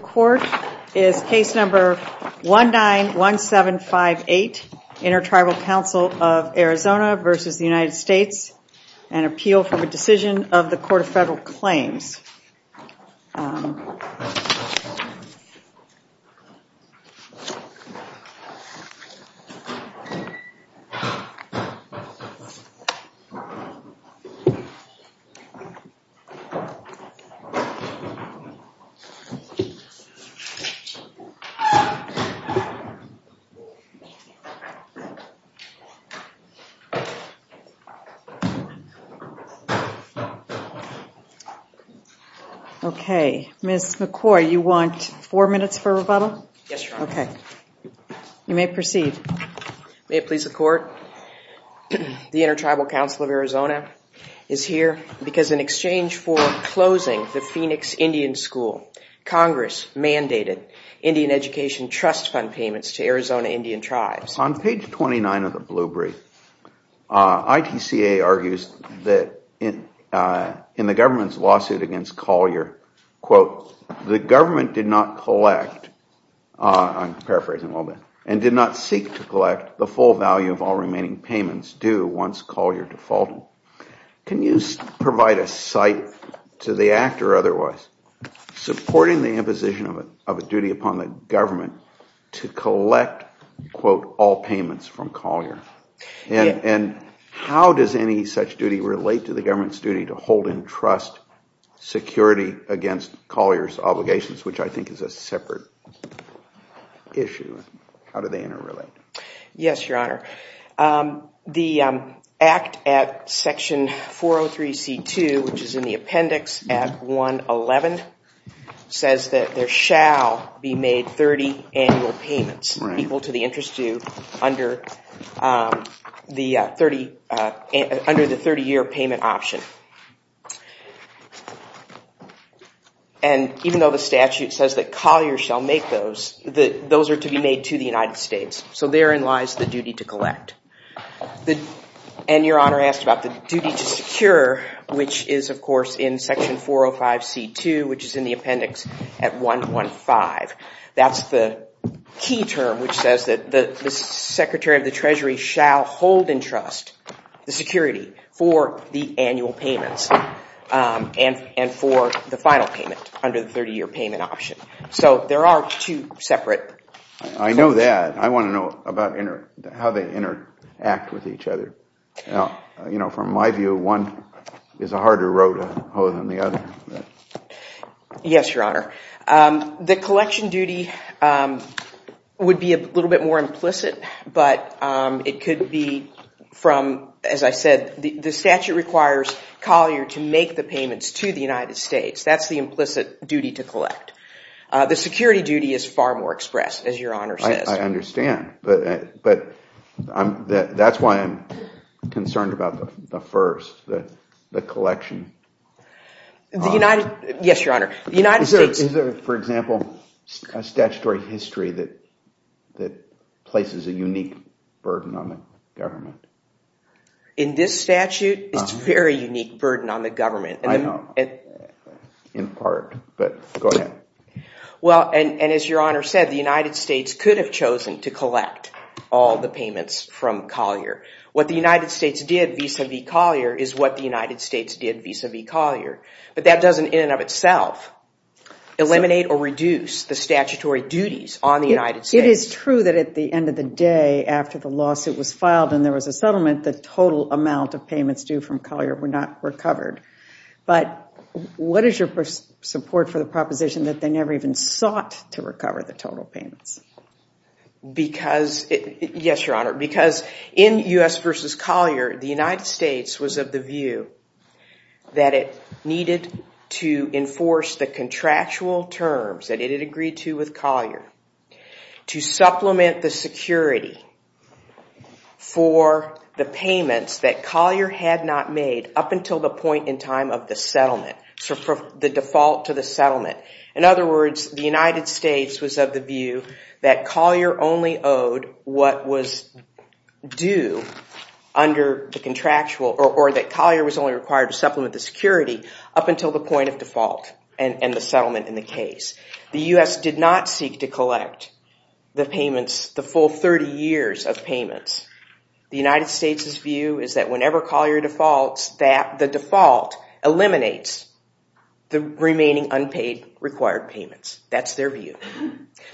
Court is case number 191758, Inter-Tribal Council of Arizona v. United States, an appeal from a decision of the Court of Federal Claims. The Inter-Tribal Council of Arizona is here because in exchange for closing the Phoenix Indian School, Congress mandated Indian Education Trust Fund payments to Arizona Indian Tribes. On page 29 of the Blue Brief, ITCA argues that in the government's lawsuit against Collier, the government did not collect and did not seek to collect the full value of all remaining payments due once Collier defaulted. Can you provide a cite to the Act or otherwise supporting the imposition of a duty upon the government to collect all payments from Collier and how does any such duty relate to the government's duty to hold and trust security against Collier's obligations, which I think is a separate issue? How do they interrelate? Yes, Your Honor. The Act at section 403C2, which is in the appendix at 111, says that there shall be made 30 annual payments equal to the interest due under the 30-year payment option and even though the statute says that Collier shall make those, those are to be made to the United States. So therein lies the duty to collect. And Your Honor asked about the duty to secure, which is of course in section 405C2, which is in the appendix at 115. That's the key term which says that the Secretary of the Treasury shall hold and trust the security for the annual payments and for the final payment under the 30-year payment option. So there are two separate. I know that. I want to know about how they interact with each other. From my view, one is a harder road to hoe than the other. Yes, Your Honor. The collection duty would be a little bit more implicit, but it could be from, as I said, the statute requires Collier to make the payments to the United States. That's the implicit duty to collect. The security duty is far more expressed, as Your Honor says. I understand, but that's why I'm concerned about the first, the collection. The United, yes, Your Honor, the United States. Is there, for example, a statutory history that places a unique burden on the government? In this statute, it's a very unique burden on the government. I know, in part, but go ahead. Well, and as Your Honor said, the United States could have chosen to collect all the payments from Collier. What the United States did vis-a-vis Collier is what the United States did vis-a-vis Collier. But that doesn't, in and of itself, eliminate or reduce the statutory duties on the United States. It is true that at the end of the day, after the lawsuit was filed and there was a settlement, the total amount of payments due from Collier were not recovered. But what is your support for the proposition that they never even sought to recover the total payments? Yes, Your Honor, because in U.S. v. Collier, the United States was of the view that it needed to enforce the contractual terms that it had agreed to with Collier to supplement the security for the payments that Collier had not made up until the point in time of the settlement, the default to the settlement. In other words, the United States was of the view that Collier only owed what was due under the contractual, or that Collier was only required to supplement the security up until the point of default and the settlement in the case. The U.S. did not seek to collect the payments, the full 30 years of payments. The United States' view is that whenever Collier defaults, the default eliminates the remaining unpaid required payments. That's their view.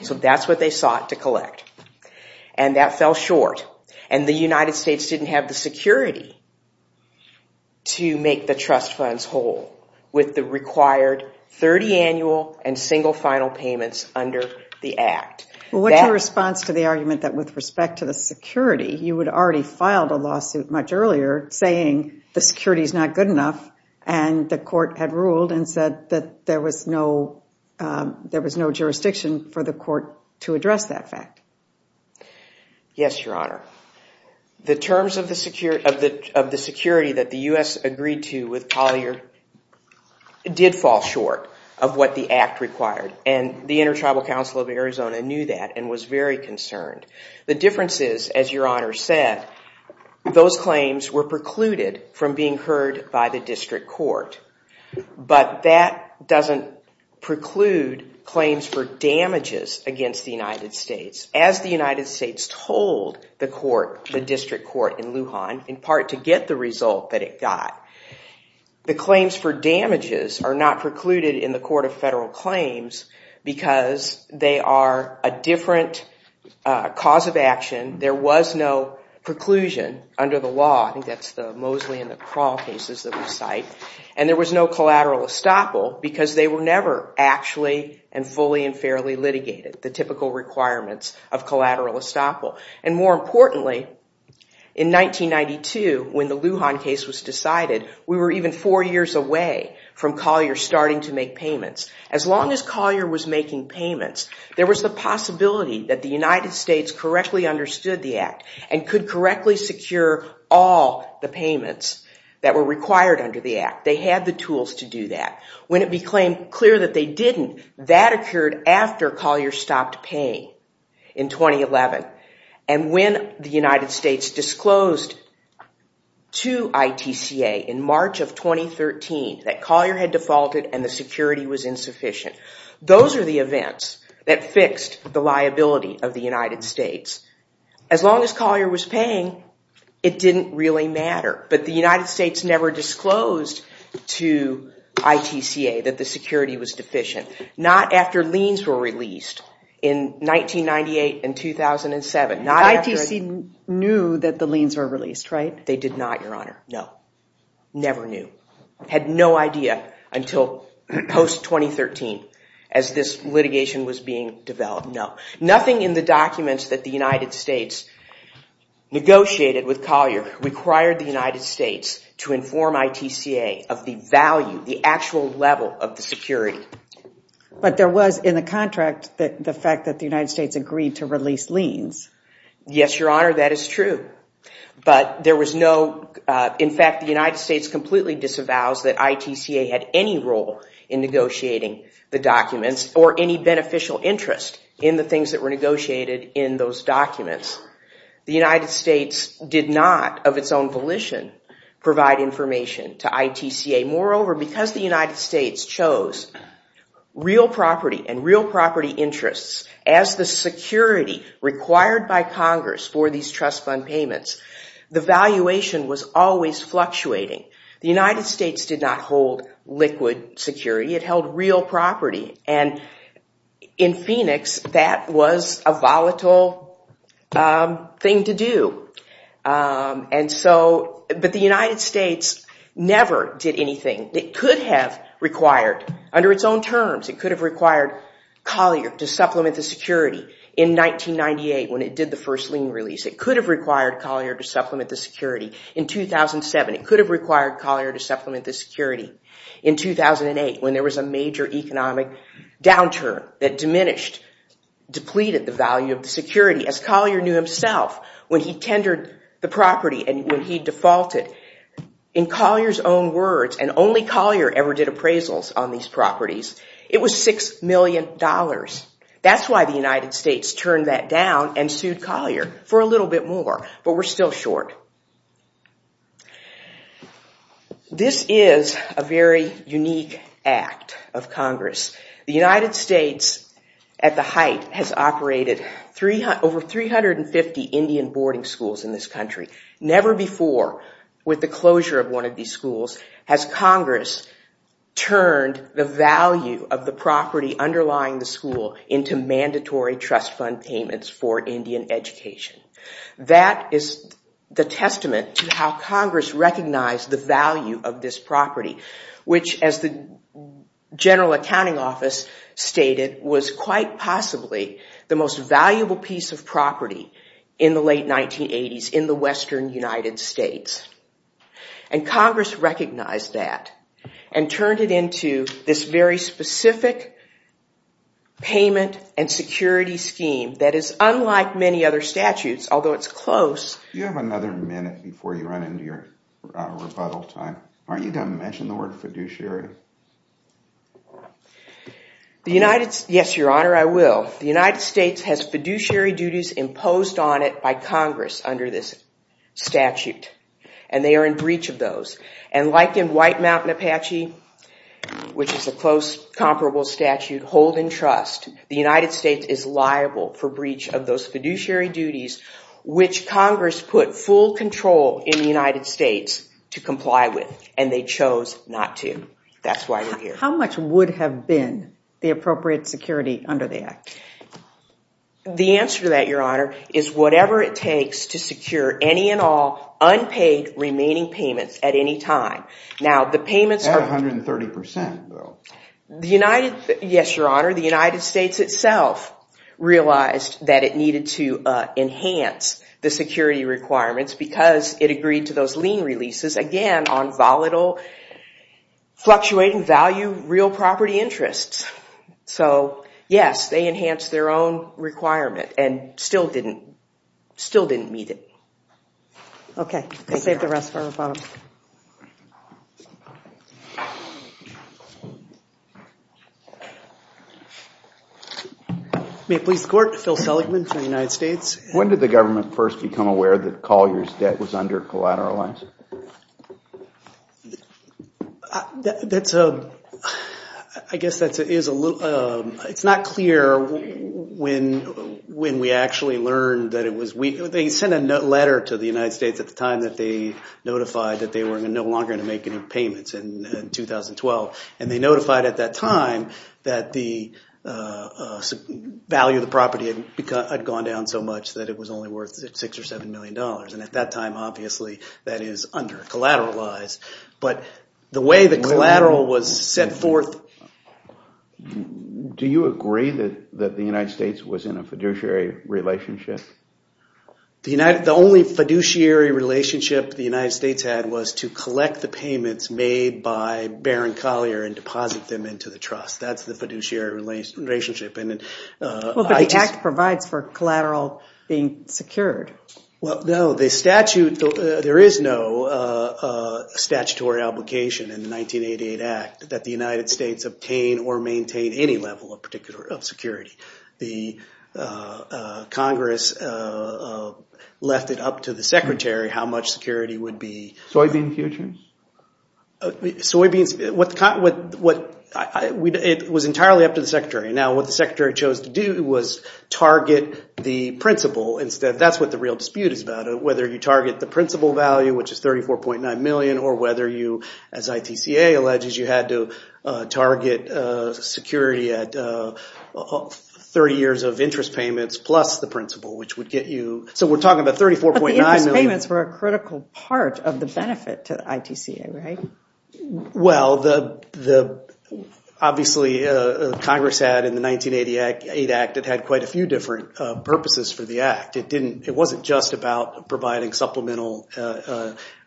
So that's what they sought to collect. And that fell short. And the United States didn't have the security to make the trust funds whole with the required 30 annual and single final payments under the Act. Well, what's your response to the argument that with respect to the security, you had already filed a lawsuit much earlier saying the security is not good enough, and the court had ruled and said that there was no jurisdiction for the court to address that fact? Yes, Your Honor. The terms of the security that the U.S. agreed to with Collier did fall short of what the Act required. And the Inter-Tribal Council of Arizona knew that and was very concerned. The difference is, as Your Honor said, those claims were precluded from being heard by the district court. But that doesn't preclude claims for damages against the United States. As the United States told the court, the district court in Lujan, in part to get the result that it got. The claims for damages are not precluded in the Court of Federal Claims because they are a different cause of action. There was no preclusion under the law. I think that's the Mosley and the Krall cases that we cite. And there was no collateral estoppel because they were never actually and fully and fairly the typical requirements of collateral estoppel. And more importantly, in 1992, when the Lujan case was decided, we were even four years away from Collier starting to make payments. As long as Collier was making payments, there was the possibility that the United States correctly understood the Act and could correctly secure all the payments that were required under the Act. They had the tools to do that. When it became clear that they didn't, that occurred after Collier stopped paying in 2011. And when the United States disclosed to ITCA in March of 2013 that Collier had defaulted and the security was insufficient, those are the events that fixed the liability of the United States. As long as Collier was paying, it didn't really matter. But the United States never disclosed to ITCA that the security was deficient, not after liens were released in 1998 and 2007. ITC knew that the liens were released, right? They did not, Your Honor. No, never knew. Had no idea until post-2013 as this litigation was being developed. No, nothing in the documents that the United States negotiated with Collier required the United States to inform ITCA of the value, the actual level of the security. But there was in the contract the fact that the United States agreed to release liens. Yes, Your Honor, that is true. But there was no, in fact, the United States completely disavows that ITCA had any role in negotiating the documents or any beneficial interest in the things that were negotiated in those documents. The United States did not, of its own volition, provide information to ITCA. Moreover, because the United States chose real property and real property interests as the security required by Congress for these trust fund payments, the valuation was always fluctuating. The United States did not hold liquid security. It held real property. And in Phoenix, that was a volatile thing to do. But the United States never did anything that could have required, under its own terms, it could have required Collier to supplement the security in 1998 when it did the first lien release. It could have required Collier to supplement the security in 2007. It could have required Collier to supplement the security in 2008 when there was a major economic downturn that diminished, depleted the value of the security, as Collier knew himself when he tendered the property and when he defaulted. In Collier's own words, and only Collier ever did appraisals on these properties, it was $6 million. That's why the United States turned that down and sued Collier for a little bit more. But we're still short. This is a very unique act of Congress. The United States, at the height, has operated over 350 Indian boarding schools in this country. Never before, with the closure of one of these schools, has Congress turned the value of the property underlying the school into mandatory trust fund payments for Indian education. That is the testament to how Congress recognized the value of this property, which, as the General Accounting Office stated, was quite possibly the most valuable piece of property in the late 1980s in the western United States. Congress recognized that and turned it into this very specific payment and security scheme that is unlike many other statutes, although it's close. You have another minute before you run into your rebuttal time. Aren't you going to mention the word fiduciary? Yes, Your Honor, I will. The United States has fiduciary duties imposed on it by Congress under this statute, and they are in breach of those. And like in White Mountain Apache, which is a close, comparable statute, holding trust, the United States is liable for breach of those fiduciary duties, which Congress put full control in the United States to comply with. And they chose not to. That's why you're here. How much would have been the appropriate security under the act? The answer to that, Your Honor, is whatever it takes to secure any and all unpaid remaining payments at any time. Now, the payments are— At 130 percent, though. The United— Yes, Your Honor. The United States itself realized that it needed to enhance the security requirements because it agreed to those lien releases, again, on volatile, fluctuating value real property interests. So, yes, they enhanced their own requirement and still didn't— still didn't meet it. Okay. I'll save the rest for the following. May it please the Court. Phil Seligman from the United States. When did the government first become aware that Collier's debt was under collateralized? That's a— I guess that is a little— it's not clear when we actually learned that it was— they sent a letter to the United States at the time that they notified that they were no longer going to make any payments in 2012. And they notified at that time that the value of the property had gone down so much that it was only worth six or seven million dollars. And at that time, obviously, that is under collateralized. But the way the collateral was set forth— Do you agree that the United States was in a fiduciary relationship? The United— the only fiduciary relationship the United States had was to collect the payments made by Baron Collier and deposit them into the trust. That's the fiduciary relationship. And— Well, but the Act provides for collateral being secured. Well, no, the statute— there is no statutory obligation in the 1988 Act that the United States obtain or maintain any level of security. The Congress left it up to the Secretary how much security would be— Soybean futures? Soybeans— what— it was entirely up to the Secretary. Now, what the Secretary chose to do was target the principal instead. That's what the real dispute is about, whether you target the principal value, which is 34.9 million, or whether you, as ITCA alleges, you had to target security at 30 years of interest payments plus the principal, which would get you— So we're talking about 34.9 million— But the interest payments were a critical part of the benefit to ITCA, right? Well, the— obviously, Congress had, in the 1988 Act, it had quite a few different purposes for the Act. It didn't— it wasn't just about providing supplemental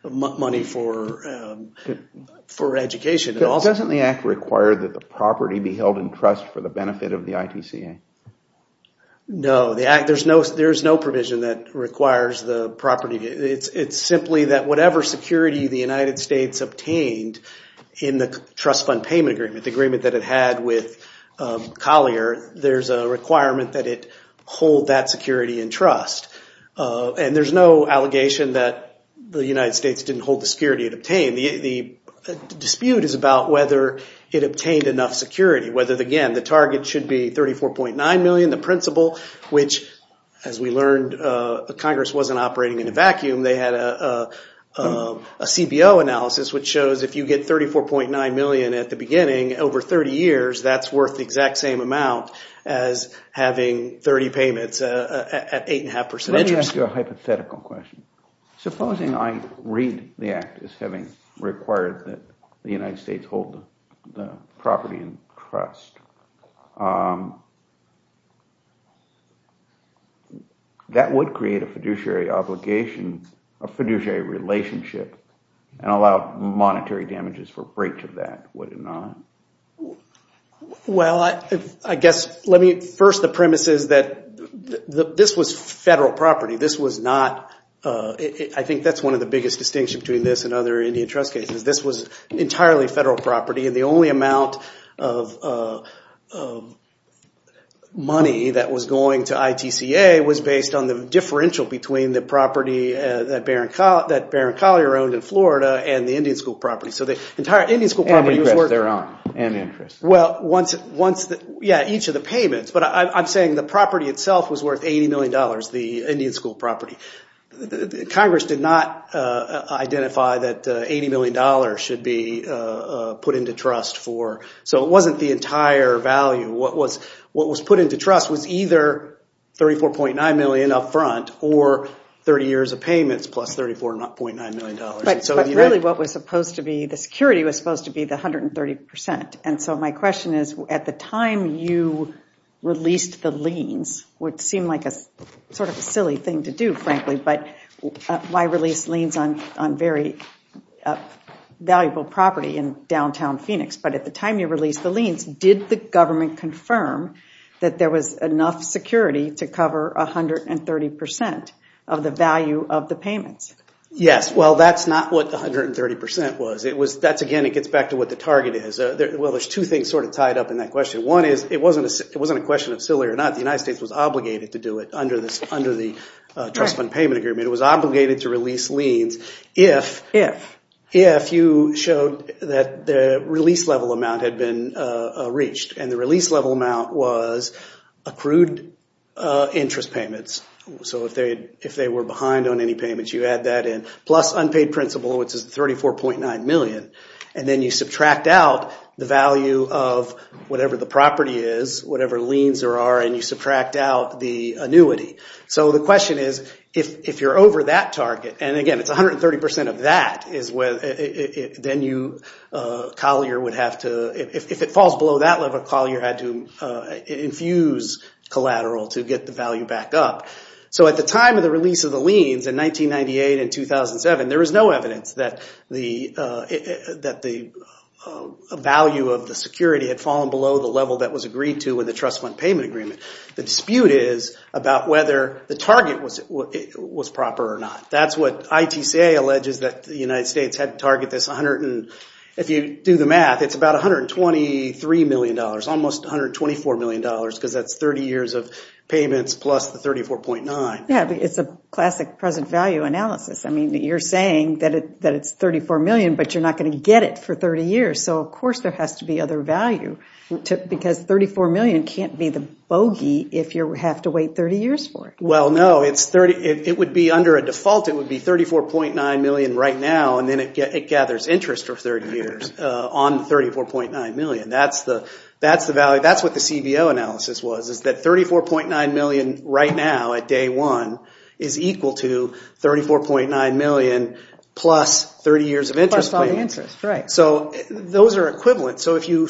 money for education at all. Doesn't the Act require that the property be held in trust for the benefit of the ITCA? No, the Act— there's no provision that requires the property— it's simply that whatever security the United States obtained in the trust fund payment agreement, the agreement that it had with Collier, there's a requirement that it hold that security in trust, and there's no allegation that the United States didn't hold the security it obtained. The dispute is about whether it obtained enough security, whether, again, the target should be 34.9 million, the principal, which, as we learned, Congress wasn't operating in a vacuum. They had a CBO analysis which shows if you get 34.9 million at the beginning, over 30 years, that's worth the exact same amount as having 30 payments at 8.5% interest. Let me ask you a hypothetical question. Supposing I read the Act as having required that the United States hold the property in trust, that would create a fiduciary obligation, a fiduciary relationship, and allow monetary damages for breach of that, would it not? Well, I guess, let me— first, the premise is that this was federal property. This was not— I think that's one of the biggest distinctions between this and other Indian trust cases. This was entirely federal property, and the only amount of money that was going to ITCA was based on the differential between the property that Barron Collier owned in Florida and the Indian School property. So the entire Indian School property was worth— And their own, and interest. Well, yeah, each of the payments, but I'm saying the property itself was worth $80 million. Congress did not identify that $80 million should be put into trust for— so it wasn't the entire value. What was put into trust was either $34.9 million up front or 30 years of payments plus $34.9 million. But really, what was supposed to be— the security was supposed to be the 130%, and so my question is, at the time you released the liens, what seemed like a sort of silly thing to do, frankly, but why release liens on very valuable property in downtown Phoenix? But at the time you released the liens, did the government confirm that there was enough security to cover 130% of the value of the payments? Yes. Well, that's not what 130% was. It was— that's, again, it gets back to what the target is. Well, there's two things sort of tied up in that question. One is, it wasn't a question of silly or not. The United States was obligated to do it under the trust fund payment agreement. It was obligated to release liens if you showed that the release level amount had been reached, and the release level amount was accrued interest payments. So if they were behind on any payments, you add that in, plus unpaid principal, which is $34.9 million, and then you subtract out the value of whatever the property is, whatever liens there are, and you subtract out the annuity. So the question is, if you're over that target, and again, it's 130% of that, then you— Collier would have to— if it falls below that level, Collier had to infuse collateral to get the value back up. So at the time of the release of the liens, in 1998 and 2007, there was no evidence that the value of the security had fallen below the level that was agreed to in the trust fund payment agreement. The dispute is about whether the target was proper or not. That's what ITCA alleges that the United States had to target this 100— if you do the math, it's about $123 million, almost $124 million, because that's 30 years of payments plus the 34.9. Yeah, but it's a classic present value analysis. I mean, you're saying that it's $34 million, but you're not going to get it for 30 years. So, of course, there has to be other value, because $34 million can't be the bogey if you have to wait 30 years for it. Well, no. It's 30— it would be, under a default, it would be $34.9 million right now, and then it gathers interest for 30 years on the $34.9 million. That's the value— that's what the CBO analysis was, is that $34.9 million right now, at day one, is equal to $34.9 million plus 30 years of interest payments. Plus all the interest, right. So those are equivalent. So if you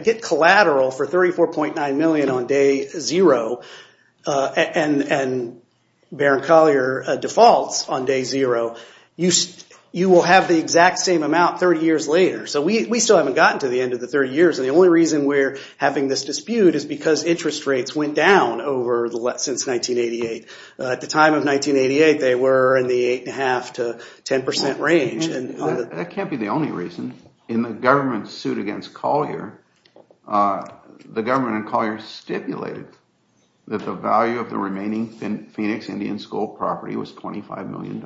get collateral for $34.9 million on day zero, and Baron Collier defaults on day zero, you will have the exact same amount 30 years later. So we still haven't gotten to the end of the 30 years, and the only reason we're having this dispute is because interest rates went down over the— since 1988. At the time of 1988, they were in the 8.5 to 10 percent range. That can't be the only reason. In the government's suit against Collier, the government in Collier stipulated that the value of the remaining Phoenix Indian School property was $25 million,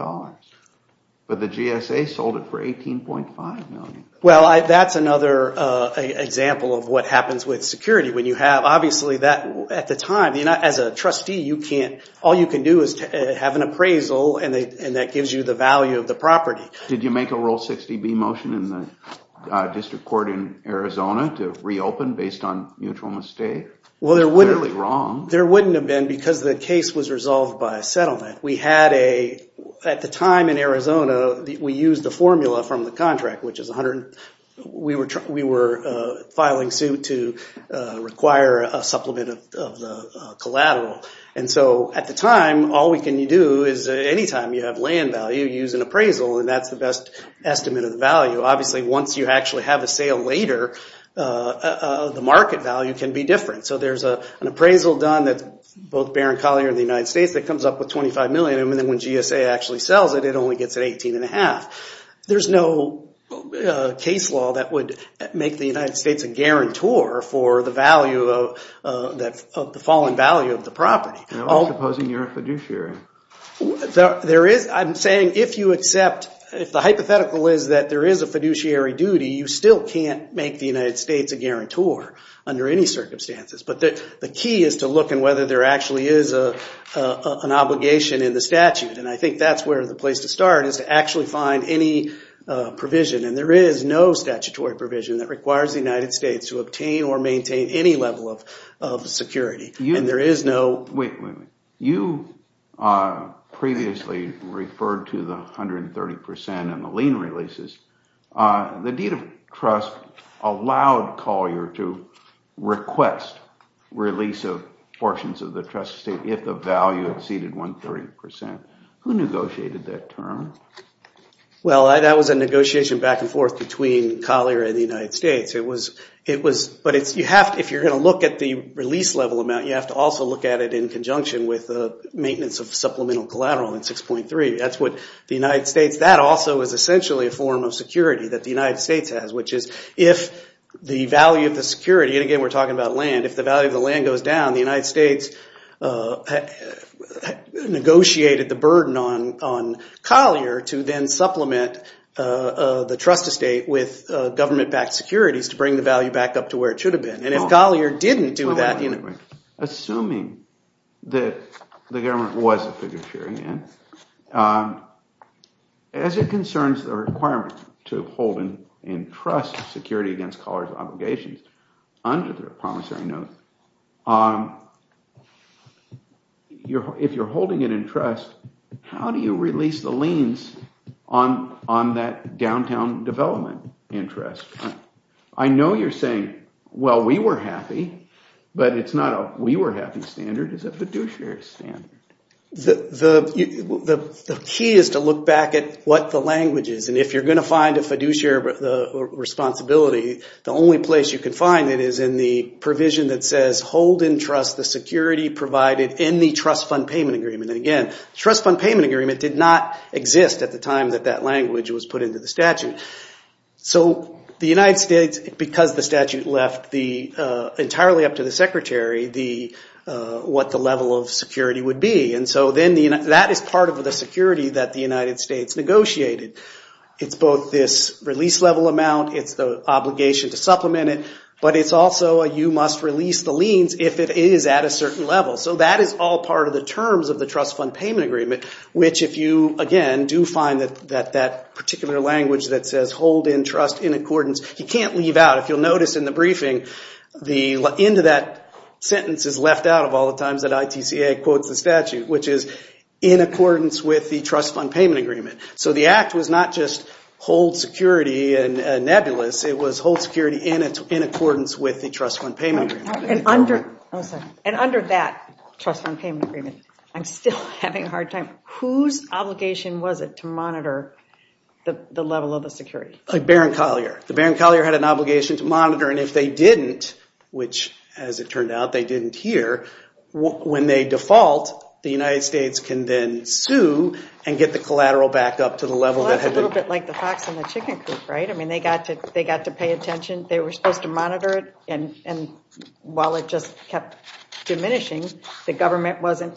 but the GSA sold it for $18.5 million. Well, that's another example of what happens with security. When you have— obviously, at the time, as a trustee, you can't— all you can do is have an appraisal, and that gives you the value of the property. Did you make a Rule 60B motion in the District Court in Arizona to reopen based on mutual mistake? Well, there wouldn't have been because the case was resolved by a settlement. We had a— at the time in Arizona, we used the formula from the contract, which is 100— we were filing suit to require a supplement of the collateral. And so, at the time, all we can do is anytime you have land value, you use an appraisal, and that's the best estimate of the value. Obviously, once you actually have a sale later, the market value can be different. So there's an appraisal done that's both Barron Collier and the United States that comes up with $25 million, and then when GSA actually sells it, it only gets an 18 and a half. There's no case law that would make the United States a guarantor for the value of— that— the falling value of the property. Now, supposing you're a fiduciary? There is— I'm saying if you accept— if the hypothetical is that there is a fiduciary duty, you still can't make the United States a guarantor under any circumstances. But the key is to look at whether there actually is an obligation in the statute, and I think that's where the place to start is to actually find any provision. And there is no statutory provision that requires the United States to obtain or maintain any level of security, and there is no— Wait, wait, wait. You previously referred to the 130 percent and the lien releases. The deed of trust allowed Collier to request release of portions of the trust estate if the value exceeded 130 percent. Who negotiated that term? Well, that was a negotiation back and forth between Collier and the United States. It was— but it's— you have— if you're going to look at the release level amount, you have to also look at it in conjunction with the maintenance of supplemental collateral in 6.3. That's what the United States— that also is essentially a form of security that the United States has, which is if the value of the security— and again, we're talking about land— if the value of the land goes down, the United States negotiated the burden on Collier to then supplement the trust estate with government-backed securities to bring the value back up to where it should have been. And if Collier didn't do that— Wait, wait, wait. —that the government was a figure-sharing in, as it concerns the requirement to hold in trust security against Collier's obligations under the promissory note, if you're holding it in trust, how do you release the liens on that downtown development interest? I know you're saying, well, we were happy, but it's not a we were happy standard, it's a fiduciary standard. The key is to look back at what the language is. And if you're going to find a fiduciary responsibility, the only place you can find it is in the provision that says, hold in trust the security provided in the trust fund payment agreement. Again, trust fund payment agreement did not exist at the time that that language was put into the statute. So the United States, because the statute left entirely up to the secretary what the level of security would be. And so then that is part of the security that the United States negotiated. It's both this release level amount, it's the obligation to supplement it, but it's also you must release the liens if it is at a certain level. So that is all part of the terms of the trust fund payment agreement, which if you, again, do find that that particular language that says, hold in trust in accordance, you can't leave out, if you'll notice in the briefing, the end of that sentence is left out of all the times that ITCA quotes the statute, which is in accordance with the trust fund payment agreement. So the act was not just hold security and nebulous, it was hold security in accordance with the trust fund payment agreement. And under that trust fund payment agreement, I'm still having a hard time. Whose obligation was it to monitor the level of the security? Like Baron Collier. The Baron Collier had an obligation to monitor, and if they didn't, which as it turned out, they didn't here, when they default, the United States can then sue and get the collateral back up to the level that had been. Well, that's a little bit like the fox and the chicken coop, right? I mean, they got to pay attention, they were supposed to monitor it, and while it just kept diminishing, the government wasn't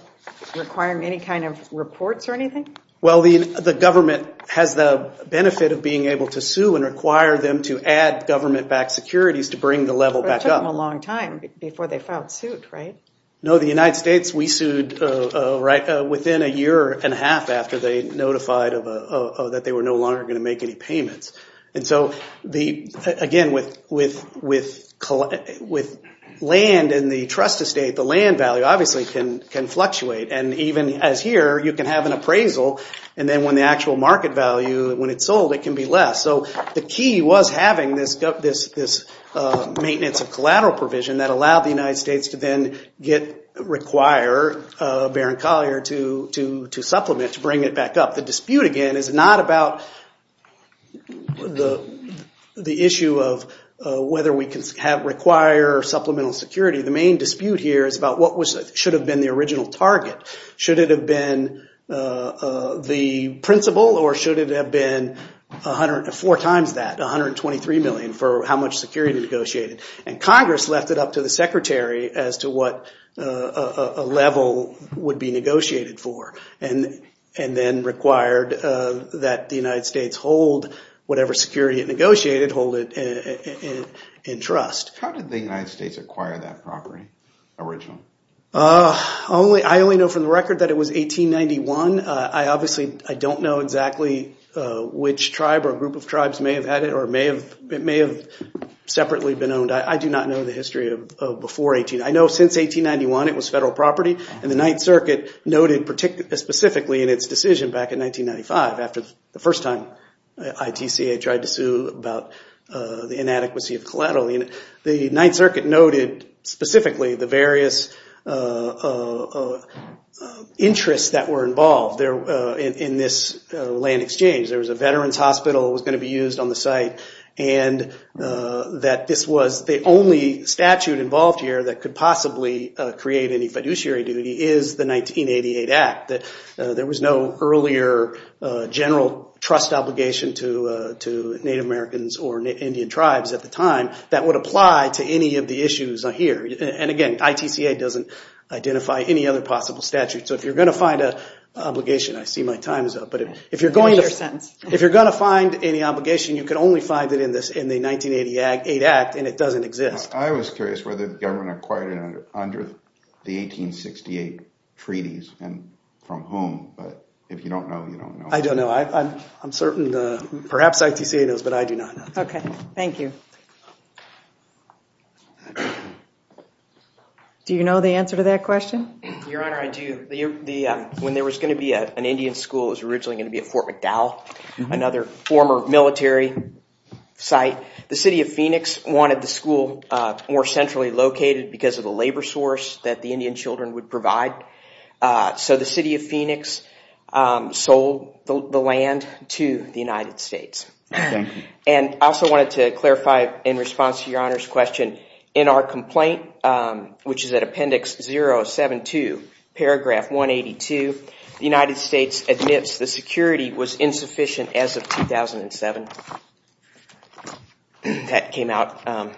requiring any kind of reports or anything? Well, the government has the benefit of being able to sue and require them to add government backed securities to bring the level back up. But it took them a long time before they filed suit, right? No, the United States, we sued within a year and a half after they notified that they were no longer going to make any payments. And so, again, with land and the trust estate, the land value obviously can fluctuate, and even as here, you can have an appraisal, and then when the actual market value, when it's sold, it can be less. So the key was having this maintenance of collateral provision that allowed the United States to then require Baron Collier to supplement, to bring it back up. The dispute, again, is not about the issue of whether we can require supplemental security. The main dispute here is about what should have been the original target. Should it have been the principal, or should it have been four times that, $123 million for how much security negotiated? And Congress left it up to the Secretary as to what a level would be negotiated for, and then required that the United States hold whatever security it negotiated, hold it in trust. How did the United States acquire that property, original? I only know from the record that it was 1891. I obviously, I don't know exactly which tribe or group of tribes may have had it or may have, it may have separately been owned. I do not know the history of before 18, I know since 1891 it was federal property, and the Ninth Circuit noted specifically in its decision back in 1995, after the first time ITCA tried to sue about the inadequacy of collateral. The Ninth Circuit noted specifically the various interests that were involved in this land exchange. There was a veteran's hospital that was going to be used on the site, and that this was the only statute involved here that could possibly create any fiduciary duty is the 1988 Act. There was no earlier general trust obligation to Native Americans or Indian tribes at the time that would apply to any of the issues here. And again, ITCA doesn't identify any other possible statutes, so if you're going to find an obligation, I see my time is up, but if you're going to find any obligation, you can only find it in the 1988 Act, and it doesn't exist. I was curious whether the government acquired it under the 1868 treaties, and from whom, but if you don't know, you don't know. I don't know. I'm certain, perhaps ITCA knows, but I do not know. Okay, thank you. Do you know the answer to that question? Your Honor, I do. When there was going to be an Indian school, it was originally going to be at Fort McDowell, another former military site. The city of Phoenix wanted the school more centrally located because of the labor source that the Indian children would provide, so the city of Phoenix sold the land to the United States. Thank you. And I also wanted to clarify, in response to Your Honor's question, in our complaint, which is at appendix 072, paragraph 182, the United States admits the security was insufficient as of 2007. That came out.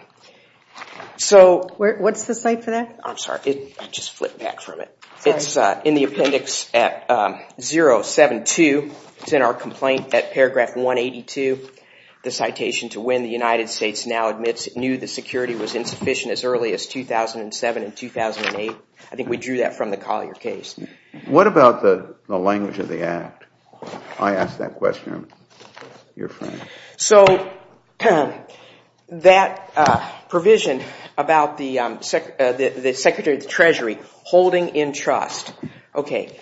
What's the site for that? I'm sorry. I just flipped back from it. Sorry. It's in the appendix at 072, it's in our complaint at paragraph 182, the citation to when the United States now admits it knew the security was insufficient as early as 2007 and 2008. I think we drew that from the Collier case. What about the language of the Act? I asked that question, Your Honor. So that provision about the Secretary of the Treasury holding in trust, okay,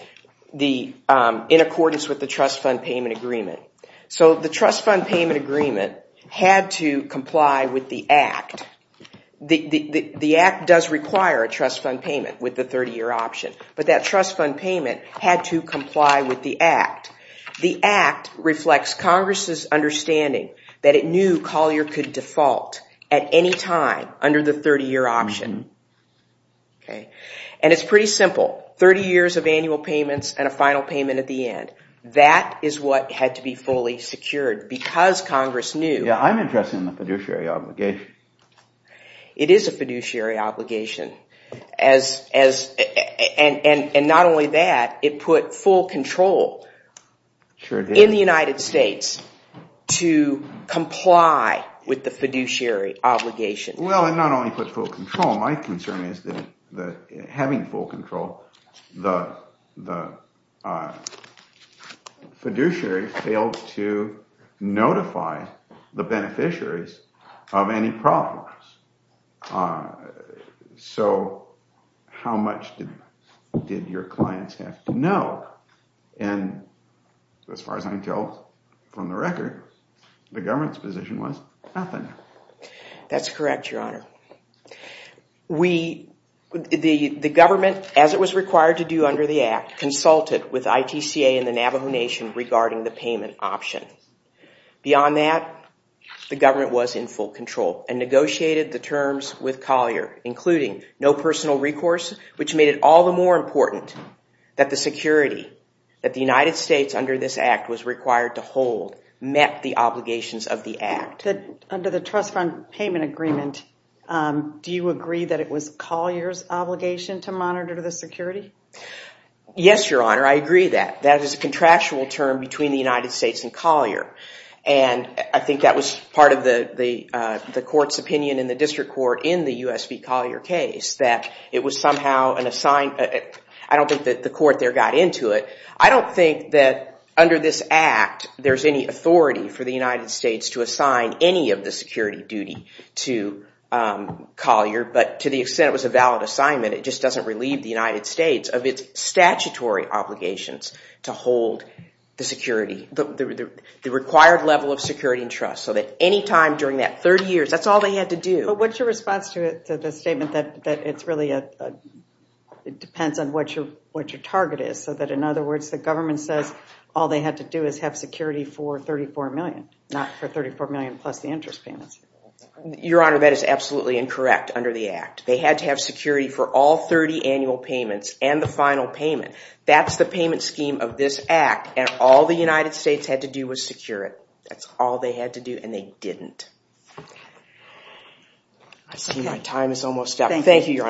in accordance with the trust fund payment agreement. So the trust fund payment agreement had to comply with the Act. The Act does require a trust fund payment with the 30-year option, but that trust fund payment had to comply with the Act. The Act reflects Congress' understanding that it knew Collier could default at any time under the 30-year option. And it's pretty simple. 30 years of annual payments and a final payment at the end. That is what had to be fully secured because Congress knew. Yeah, I'm interested in the fiduciary obligation. It is a fiduciary obligation. And not only that, it put full control in the United States to comply with the fiduciary obligation. Well, it not only put full control, my concern is that having full control, the fiduciary failed to notify the beneficiaries of any problems. So, how much did your clients have to know? And as far as I can tell from the record, the government's position was nothing. That's correct, Your Honor. The government, as it was required to do under the Act, consulted with ITCA and the Navajo Nation regarding the payment option. Beyond that, the government was in full control and negotiated the terms with Collier, including no personal recourse, which made it all the more important that the security that the United States, under this Act, was required to hold met the obligations of the Act. Under the Trust Fund Payment Agreement, do you agree that it was Collier's obligation to monitor the security? Yes, Your Honor, I agree that. That is a contractual term between the United States and Collier. And I think that was part of the court's opinion in the district court in the U.S. v. Collier case, that it was somehow an assigned—I don't think that the court there got into it. I don't think that under this Act, there's any authority for the United States to assign any of the security duty to Collier, but to the extent it was a valid assignment, it just doesn't relieve the United States of its statutory obligations to hold the required level of security and trust, so that any time during that 30 years, that's all they had to do. But what's your response to the statement that it really depends on what your target is, so that, in other words, the government says all they had to do is have security for $34 million, not for $34 million plus the interest payments? Your Honor, that is absolutely incorrect under the Act. They had to have security for all 30 annual payments and the final payment. That's the payment scheme of this Act, and all the United States had to do was secure it. That's all they had to do, and they didn't. I see my time is almost up. Thank you, Your Honors.